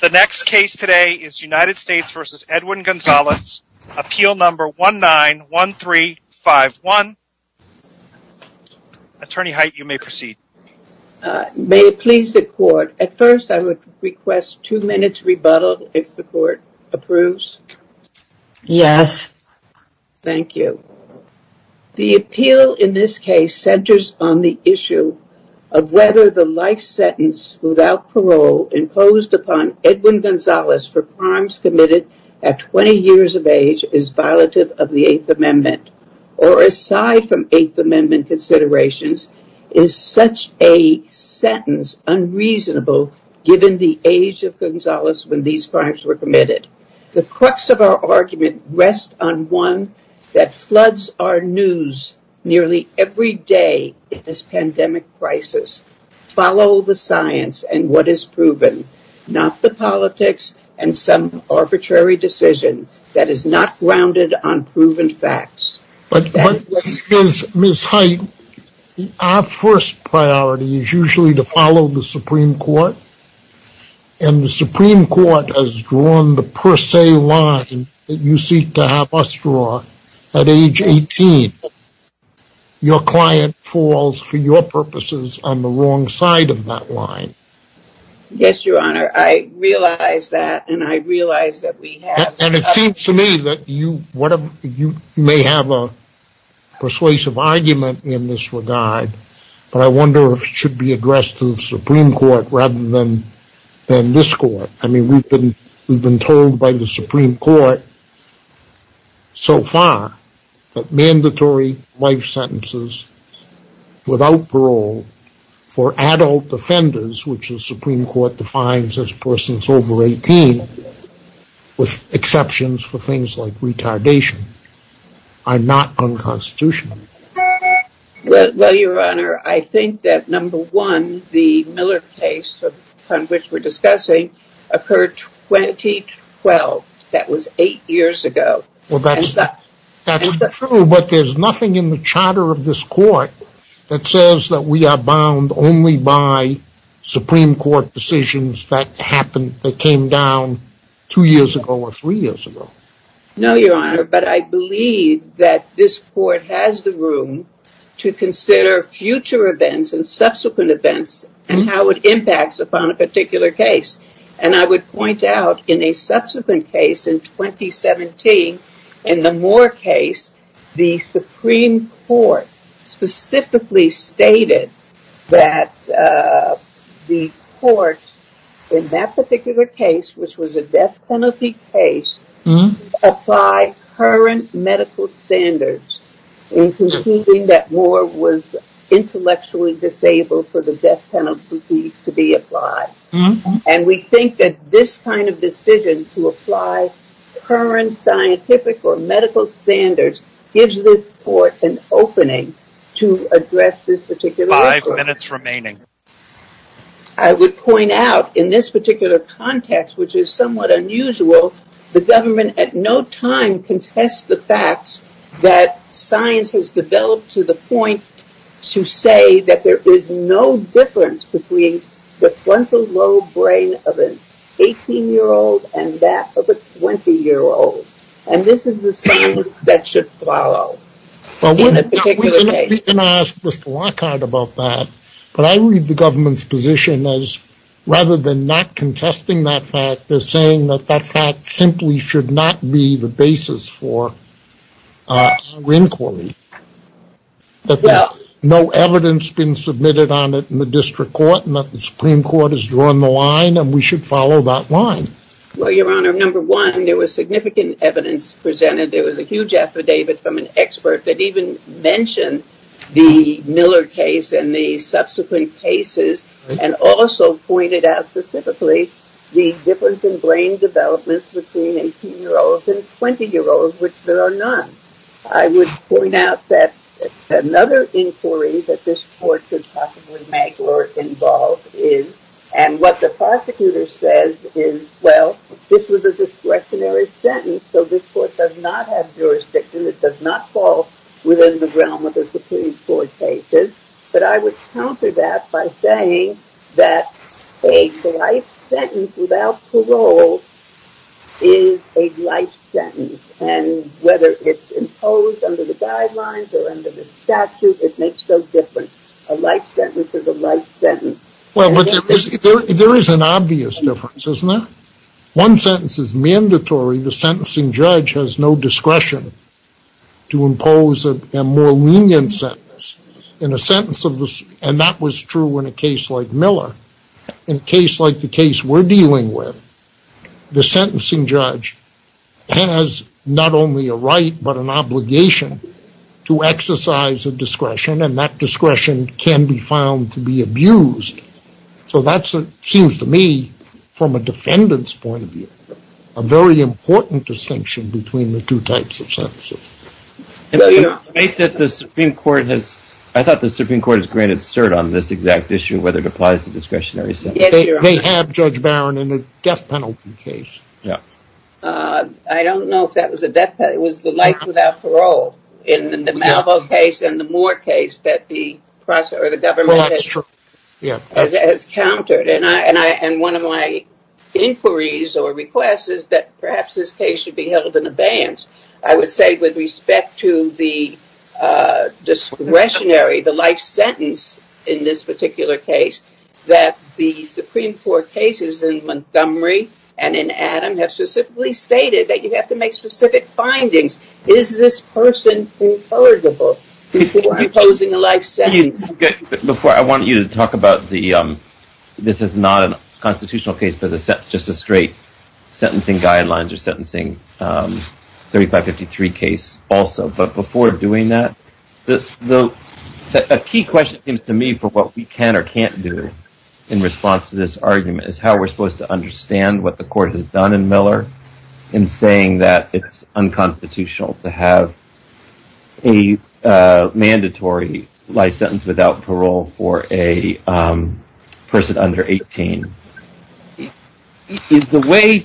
The next case today is United States v. Edwin Gonzalez, appeal number 191351. Attorney Height, you may proceed. May it please the court, at first I would request two minutes rebuttal if the court approves. Yes. Thank you. The appeal in this case centers on the issue of whether the life sentence without parole imposed upon Edwin Gonzalez for crimes committed at 20 years of age is violative of the Eighth Amendment, or aside from Eighth Amendment considerations, is such a sentence unreasonable given the age of Gonzalez when these crimes were committed. The crux of our argument rests on one that floods our news nearly every day in this pandemic crisis. Follow the science and what is proven, not the politics and some arbitrary decision that is not grounded on proven facts. But, Ms. Height, our first priority is usually to follow the Supreme Court, and the Supreme Court has drawn the per se line that you seek to have us draw at age 18. Your client falls, for your purposes, on the wrong side of that line. Yes, Your Honor, I realize that, and I realize that we have... And it seems to me that you may have a persuasive argument in this regard, but I wonder if it should be addressed to the Supreme Court rather than this court. I mean, we've been told by the Supreme Court so far that mandatory life sentences without parole for adult offenders, which the Supreme Court defines as persons over 18, with exceptions for things like retardation, are not unconstitutional. Well, Your Honor, I think that number one, the Miller case on which we're discussing, occurred 2012. That was eight years ago. Well, that's true, but there's nothing in the charter of this court that says that we are bound only by Supreme Court decisions that happened, that came down two years ago or three years ago. No, Your Honor, but I believe that this court has the room to consider future events and subsequent events and how it impacts upon a particular case. And I would point out, in a subsequent case in 2017, in the Moore case, the Supreme Court specifically stated that the court, in that particular case, which was a death penalty case, applied current medical standards in conceding that Moore was intellectually disabled for the death penalty to be applied. And we think that this kind of decision to apply current scientific or medical standards gives this court an opening to address this particular issue. Five minutes remaining. I would point out, in this particular context, which is somewhat unusual, the government at no time contests the facts that science has developed to the point to say that there is no difference between the frontal lobe brain of an 18-year-old and that of a 20-year-old. And this is the standard that should follow in a particular case. And I ask Mr. Lockhart about that, but I read the government's position as, rather than not contesting that fact, they're saying that that fact simply should not be the basis for our inquiry. That there's no evidence been submitted on it in the district court and that the Supreme Court has drawn the line and we should follow that line. Well, Your Honor, number one, there was significant evidence presented. There was a huge affidavit from an expert that even mentioned the Miller case and the subsequent cases and also pointed out specifically the difference in brain development between 18-year-olds and 20-year-olds, which there are none. I would point out that another inquiry that this court could possibly make or involve is, and what the prosecutor says is, well, this was a discretionary sentence, so this court does not have jurisdiction, it does not fall within the realm of the Supreme Court cases. But I would counter that by saying that a life sentence without parole is a life sentence and whether it's imposed under the guidelines or under the statute, it makes no difference. A life sentence is a life sentence. Well, there is an obvious difference, isn't there? One sentence is mandatory. The sentencing judge has no discretion to impose a more lenient sentence. And that was true in a case like Miller. In a case like the case we're dealing with, the sentencing judge has not only a right but an obligation to exercise a discretion and that discretion can be found to be abused. So that seems to me, from a defendant's point of view, a very important distinction between the two types of sentences. I thought the Supreme Court has granted cert on this exact issue, whether it applies to discretionary sentences. They have, Judge Barron, in the death penalty case. I don't know if that was a death penalty. It was the life without parole in the Malvo case and the Moore case that the government has countered. And one of my inquiries or requests is that perhaps this case should be held in abeyance. I would say with respect to the discretionary, the life sentence in this particular case, that the Supreme Court cases in Montgomery and in Adam have specifically stated that you have to make specific findings. Is this person ineligible for imposing a life sentence? Before I want you to talk about the, this is not a constitutional case, but just a straight sentencing guidelines or sentencing 3553 case also. But before doing that, a key question seems to me for what we can or can't do in response to this argument is how we're supposed to understand what the court has done in Miller in saying that it's unconstitutional to have a mandatory life sentence without parole for a person under 18. Is the way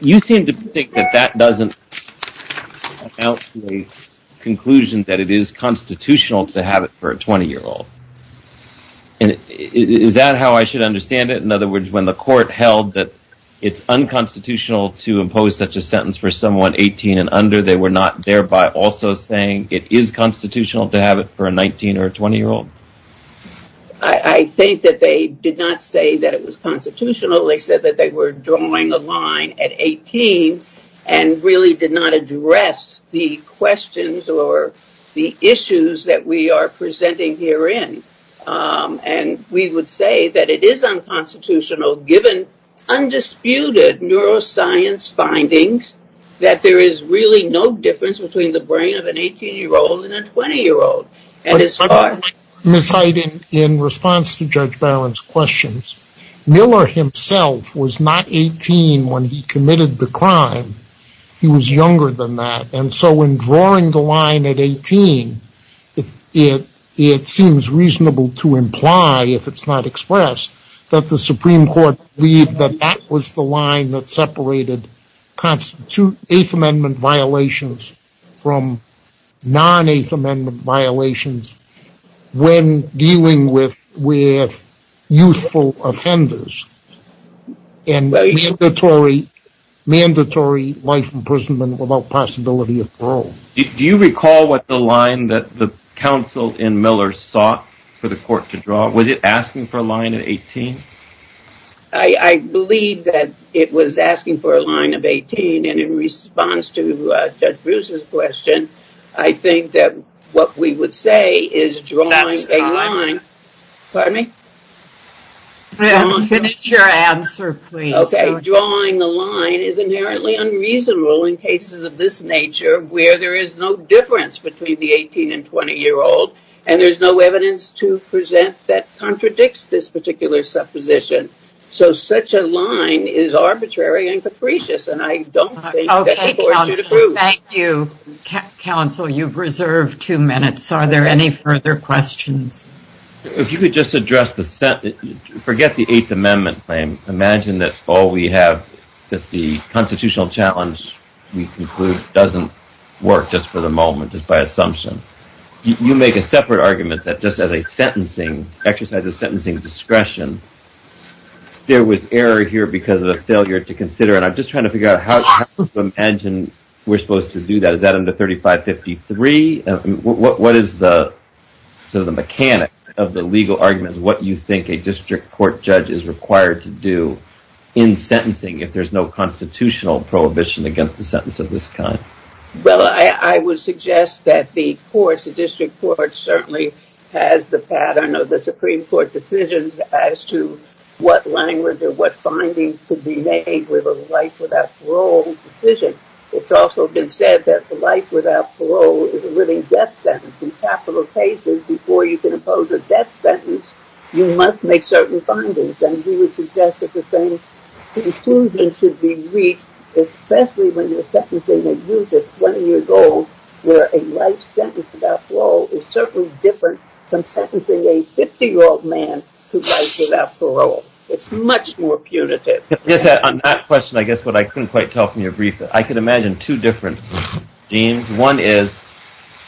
you seem to think that that doesn't help the conclusion that it is constitutional to have it for a 20 year old? And is that how I should understand it? In other words, when the court held that it's unconstitutional to impose such a sentence for someone 18 and under, they were not thereby also saying it is constitutional to have it for a 19 or 20 year old. I think that they did not say that it was constitutional. They said that they were drawing a line at 18 and really did not address the questions or the issues that we are presenting herein. And we would say that it is unconstitutional given undisputed neuroscience findings that there is really no difference between the brain of an 18 year old and a 20 year old. Ms. Heiden, in response to Judge Barron's questions, Miller himself was not 18 when he committed the crime. He was younger than that. And so in drawing the line at 18, it seems reasonable to imply, if it's not expressed, that the Supreme Court believed that that was the line that separated 8th Amendment violations from non-8th Amendment violations when dealing with youthful offenders. And mandatory life imprisonment without possibility of parole. Do you recall what the line that the counsel in Miller sought for the court to draw? Was it asking for a line at 18? I believe that it was asking for a line of 18. And in response to Judge Bruce's question, I think that what we would say is drawing a line... That's time. Pardon me? Finish your answer, please. Okay, drawing a line is inherently unreasonable in cases of this nature where there is no difference between the 18 and 20 year old. And there's no evidence to present that contradicts this particular supposition. So such a line is arbitrary and capricious, and I don't think that the court should approve. Okay, counsel, thank you. Counsel, you've reserved two minutes. Are there any further questions? If you could just address the... Forget the 8th Amendment claim. Imagine that all we have, that the constitutional challenge we conclude doesn't work just for the moment, just by assumption. You make a separate argument that just as a sentencing, exercise of sentencing discretion, there was error here because of a failure to consider. And I'm just trying to figure out how to imagine we're supposed to do that. Is that under 3553? What is the mechanic of the legal argument of what you think a district court judge is required to do in sentencing if there's no constitutional prohibition against a sentence of this kind? Well, I would suggest that the court, the district court, certainly has the pattern of the Supreme Court decision as to what language or what findings could be made with a life without parole decision. It's also been said that the life without parole is a living death sentence. In capital cases, before you can impose a death sentence, you must make certain findings. And we would suggest that the same conclusion should be reached, especially when you're sentencing a youth at 20 years old, where a life sentence without parole is certainly different from sentencing a 50-year-old man to life without parole. It's much more punitive. On that question, I guess what I couldn't quite tell from your brief, I could imagine two different schemes. One is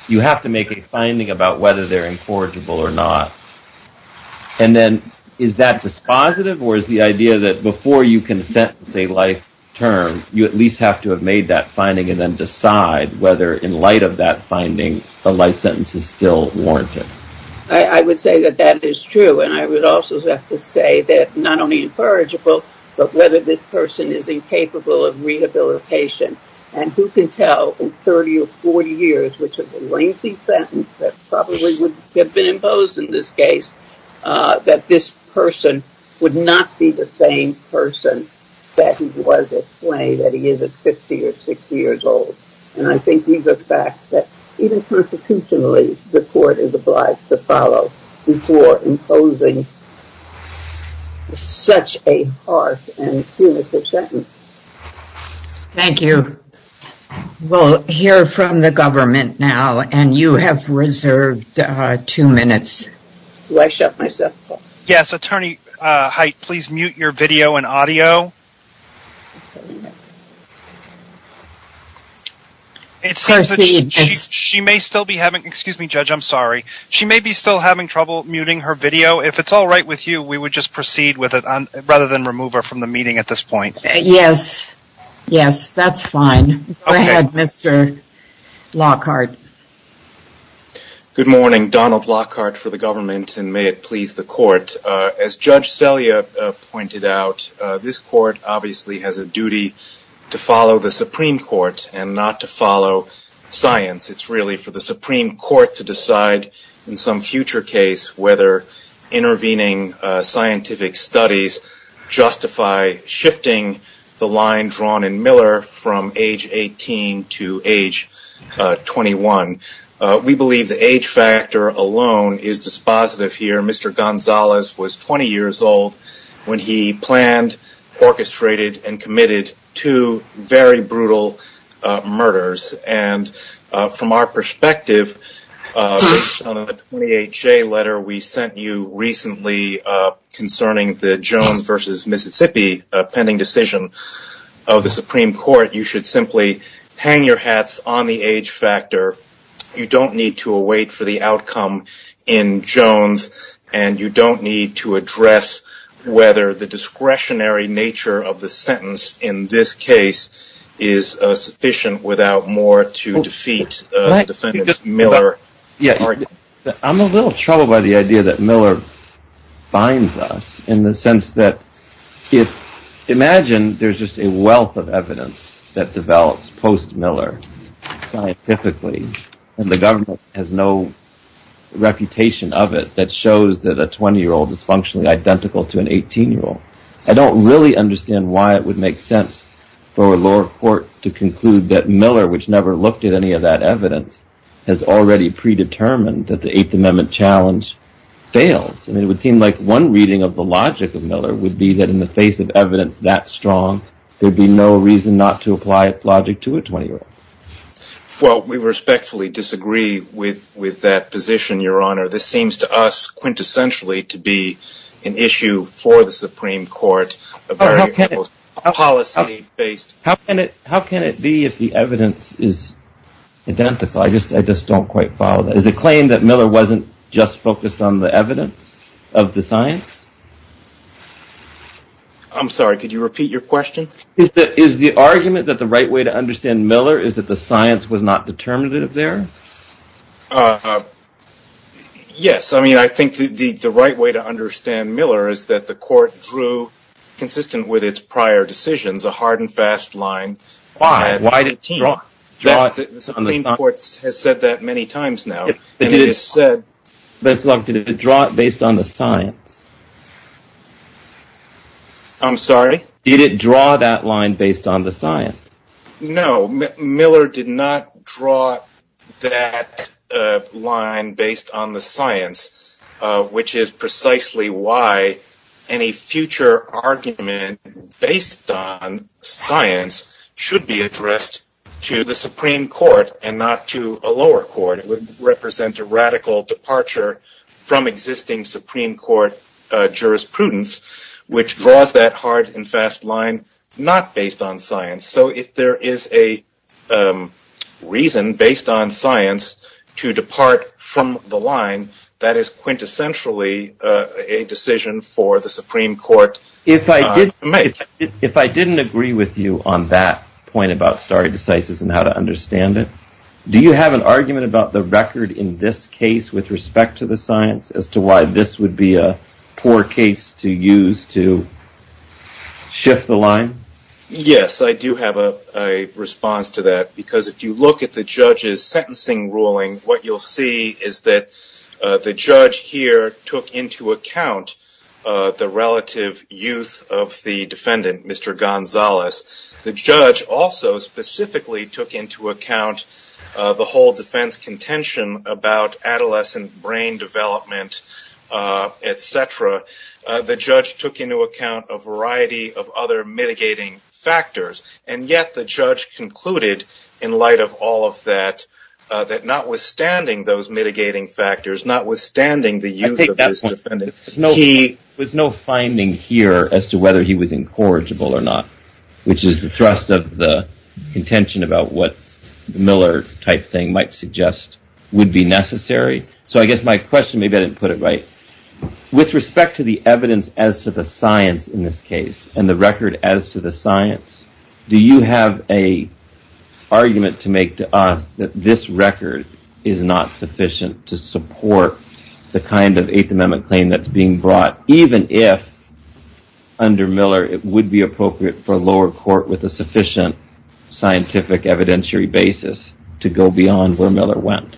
you have to make a finding about whether they're incorrigible or not. And then is that dispositive or is the idea that before you can sentence a life term, you at least have to have made that finding and then decide whether in light of that finding, a life sentence is still warranted? I would say that that is true. And I would also have to say that not only incorrigible, but whether this person is incapable of rehabilitation. And who can tell in 30 or 40 years, which is a lengthy sentence that probably would have been imposed in this case, that this person would not be the same person that he was at play, that he is at 50 or 60 years old. And I think these are facts that even constitutionally, the court is obliged to follow before imposing such a harsh and punitive sentence. Thank you. We'll hear from the government now. And you have reserved two minutes. Do I shut myself off? Yes. Attorney Hite, please mute your video and audio. Proceed. She may still be having trouble muting her video. If it's all right with you, we would just proceed with it rather than remove her from the meeting at this point. Yes. Yes, that's fine. Go ahead, Mr. Lockhart. Good morning. Donald Lockhart for the government, and may it please the court. As Judge Selya pointed out, this court obviously has a duty to follow the Supreme Court and not to follow science. It's really for the Supreme Court to decide in some future case whether intervening scientific studies justify shifting the line drawn in Miller from age 18 to age 21. We believe the age factor alone is dispositive here. Mr. Gonzalez was 20 years old when he planned, orchestrated, and committed two very brutal murders. And from our perspective, on the 28-J letter we sent you recently concerning the Jones versus Mississippi pending decision of the Supreme Court, you should simply hang your hats on the age factor. You don't need to await for the outcome in Jones, and you don't need to address whether the discretionary nature of the sentence in this case is sufficient without more to defeat the defendant's Miller argument. I'm a little troubled by the idea that Miller binds us in the sense that imagine there's just a wealth of evidence that develops post-Miller scientifically, and the government has no reputation of it that shows that a 20-year-old is functionally identical to an 18-year-old. I don't really understand why it would make sense for a lower court to conclude that Miller, which never looked at any of that evidence, has already predetermined that the Eighth Amendment challenge fails. It would seem like one reading of the logic of Miller would be that in the face of evidence that strong, there'd be no reason not to apply its logic to a 20-year-old. Well, we respectfully disagree with that position, Your Honor. This seems to us quintessentially to be an issue for the Supreme Court, a very policy-based... How can it be if the evidence is identical? I just don't quite follow that. Is it a claim that Miller wasn't just focused on the evidence of the science? I'm sorry, could you repeat your question? Is the argument that the right way to understand Miller is that the science was not determinative there? Yes, I mean, I think the right way to understand Miller is that the court drew, consistent with its prior decisions, a hard and fast line. Why? Why did it draw it? The Supreme Court has said that many times now. Did it draw it based on the science? I'm sorry? Did it draw that line based on the science? No, Miller did not draw that line based on the science, which is precisely why any future argument based on science should be addressed to the Supreme Court and not to a lower court. It would represent a radical departure from existing Supreme Court jurisprudence, which draws that hard and fast line not based on science. So if there is a reason based on science to depart from the line, that is quintessentially a decision for the Supreme Court. If I didn't agree with you on that point about stare decisis and how to understand it, do you have an argument about the record in this case with respect to the science as to why this would be a poor case to use to shift the line? Yes, I do have a response to that, because if you look at the judge's sentencing ruling, what you'll see is that the judge here took into account the relative youth of the defendant, Mr. Gonzalez. The judge also specifically took into account the whole defense contention about adolescent brain development, et cetera. The judge took into account a variety of other mitigating factors, and yet the judge concluded in light of all of that that notwithstanding those mitigating factors, notwithstanding the youth of this defendant, there was no finding here as to whether he was incorrigible or not, which is the thrust of the contention about what Miller type thing might suggest would be necessary. So I guess my question, maybe I didn't put it right. With respect to the evidence as to the science in this case and the record as to the science, do you have an argument to make to us that this record is not sufficient to support the kind of Eighth Amendment claim that's being brought, even if under Miller it would be appropriate for a lower court with a sufficient scientific evidentiary basis to go beyond where Miller went?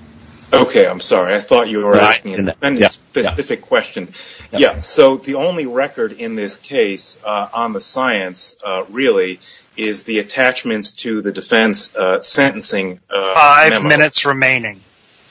Okay, I'm sorry. I thought you were asking a specific question. Yeah, so the only record in this case on the science really is the attachments to the defense sentencing. Five minutes remaining.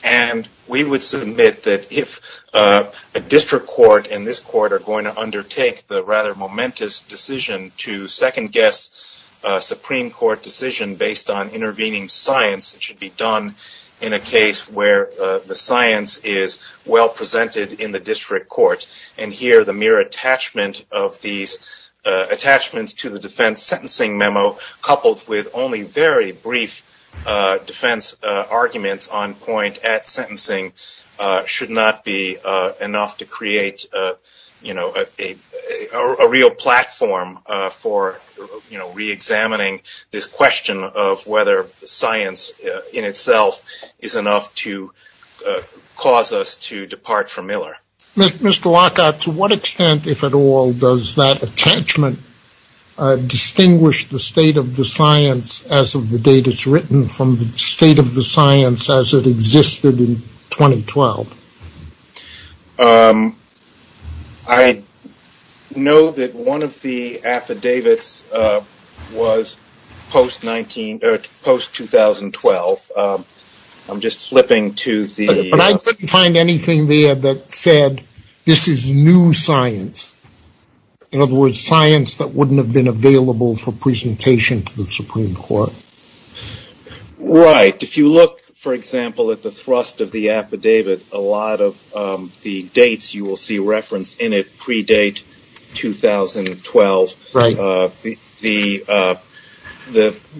And we would submit that if a district court and this court are going to undertake the rather momentous decision to second-guess a Supreme Court decision based on intervening science, it should be done in a case where the science is well presented in the district court. And here the mere attachment of these attachments to the defense sentencing memo, coupled with only very brief defense arguments on point at sentencing, should not be enough to create a real platform for reexamining this question of whether science in itself is enough to cause us to depart from Miller. Mr. Lockhart, to what extent, if at all, does that attachment distinguish the state of the science as of the date it's written from the state of the science as it existed in 2012? I know that one of the affidavits was post-2012. But I couldn't find anything there that said this is new science. In other words, science that wouldn't have been available for presentation to the Supreme Court. Right. If you look, for example, at the thrust of the affidavit, a lot of the dates you will see referenced in it predate 2012.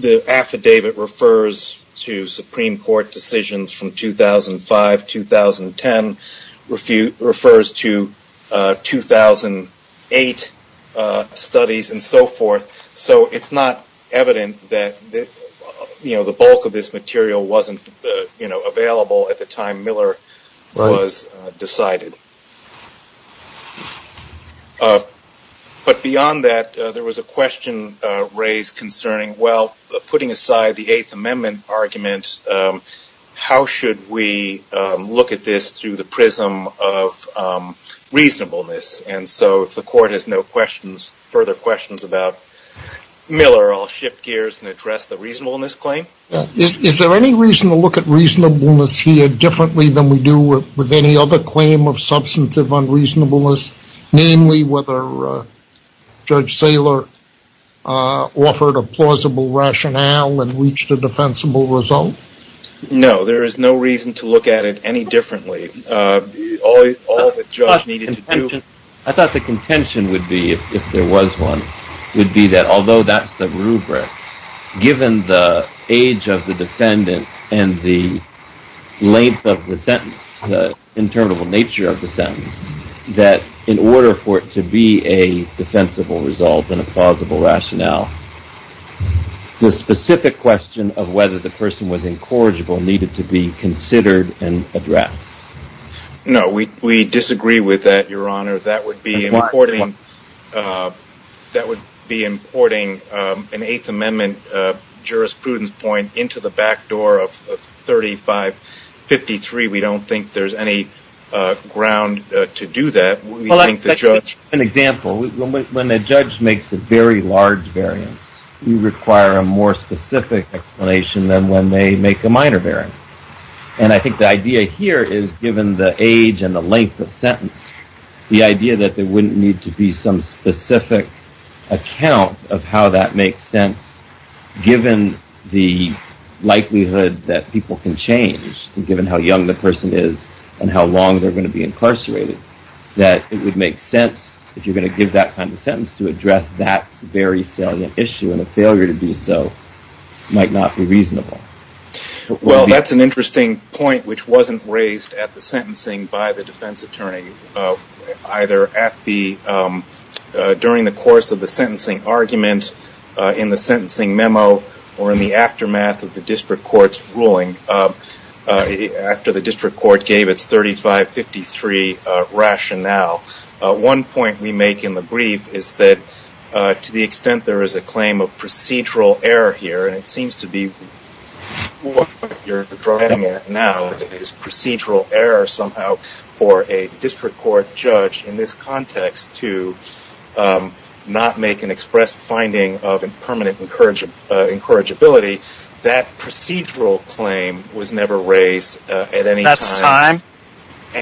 The affidavit refers to Supreme Court decisions from 2005-2010, refers to 2008 studies and so forth. So it's not evident that the bulk of this material wasn't available at the time Miller was decided. But beyond that, there was a question raised concerning, well, putting aside the Eighth Amendment argument, how should we look at this through the prism of reasonableness? And so if the Court has no further questions about Miller, I'll shift gears and address the reasonableness claim. Is there any reason to look at reasonableness here differently than we do with any other claim of substantive unreasonableness? Namely, whether Judge Saylor offered a plausible rationale and reached a defensible result? No, there is no reason to look at it any differently. I thought the contention would be, if there was one, would be that although that's the rubric, given the age of the defendant and the length of the sentence, the interminable nature of the sentence, that in order for it to be a defensible result and a plausible rationale, the specific question of whether the person was incorrigible needed to be considered and addressed. No, we disagree with that, Your Honor. That would be importing an Eighth Amendment jurisprudence point into the back door of 3553. We don't think there's any ground to do that. An example, when a judge makes a very large variance, you require a more specific explanation than when they make a minor variance. And I think the idea here is, given the age and the length of sentence, the idea that there wouldn't need to be some specific account of how that makes sense, given the likelihood that people can change, given how young the person is and how long they're going to be incarcerated, that it would make sense, if you're going to give that kind of sentence, to address that very salient issue. And a failure to do so might not be reasonable. Well, that's an interesting point, which wasn't raised at the sentencing by the defense attorney, either during the course of the sentencing argument, in the sentencing memo, or in the aftermath of the district court's ruling, after the district court gave its 3553 rationale. One point we make in the brief is that, to the extent there is a claim of procedural error here, and it seems to be what you're driving at now is procedural error, somehow, for a district court judge, in this context, to not make an express finding of permanent incorrigibility, that procedural claim was never raised at any time. That's time.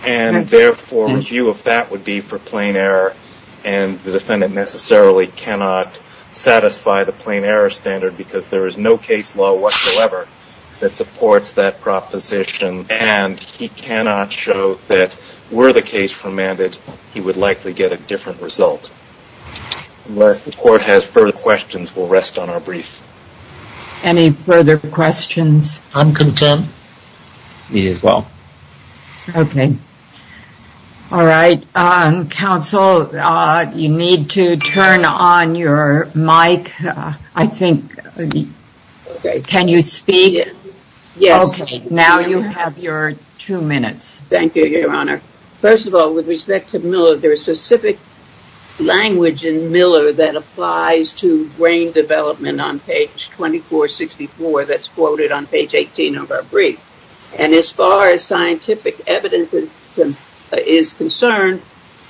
And therefore, a view of that would be for plain error, and the defendant necessarily cannot satisfy the plain error standard, because there is no case law whatsoever that supports that proposition, and he cannot show that, were the case formatted, he would likely get a different result. Unless the court has further questions, we'll rest on our brief. Any further questions? I'm content. Me as well. Okay. All right. Counsel, you need to turn on your mic, I think. Can you speak? Yes. Okay, now you have your two minutes. Thank you, Your Honor. First of all, with respect to Miller, there is specific language in Miller that applies to brain development on page 2464 that's quoted on page 18 of our brief. And as far as scientific evidence is concerned,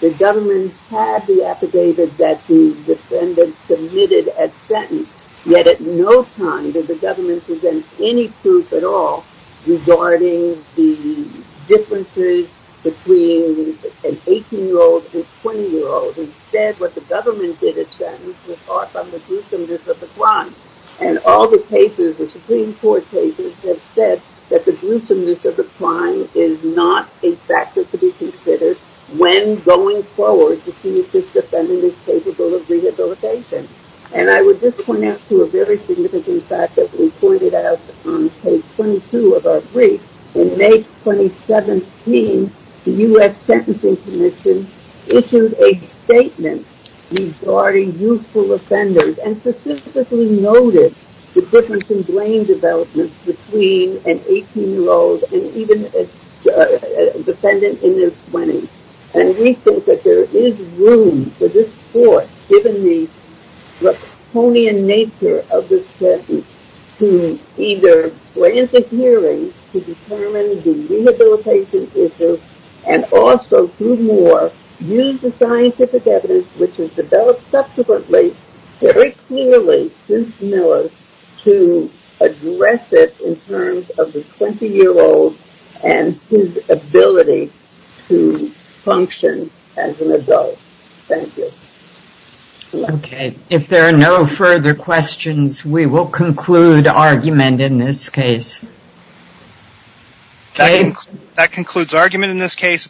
the government had the affidavit that the defendant submitted at sentence, yet at no time did the government present any proof at all regarding the differences between an 18-year-old and a 20-year-old. Instead, what the government did at sentence was fought from the dooms of the crime. And all the cases, the Supreme Court cases, have said that the gruesomeness of the crime is not a factor to be considered when going forward to see if this defendant is capable of rehabilitation. And I would just point out to a very significant fact that we pointed out on page 22 of our brief, in May 2017, the U.S. Sentencing Commission issued a statement regarding youthful offenders, and specifically noted the difference in brain development between an 18-year-old and even a defendant in their 20s. And we think that there is room for this court, given the Laconian nature of this sentence, to either grant a hearing to determine the rehabilitation issue, and also, through more, use the scientific evidence which was developed subsequently, very clearly since Miller, to address it in terms of the 20-year-old and his ability to function as an adult. Thank you. Okay. If there are no further questions, we will conclude argument in this case. That concludes argument in this case.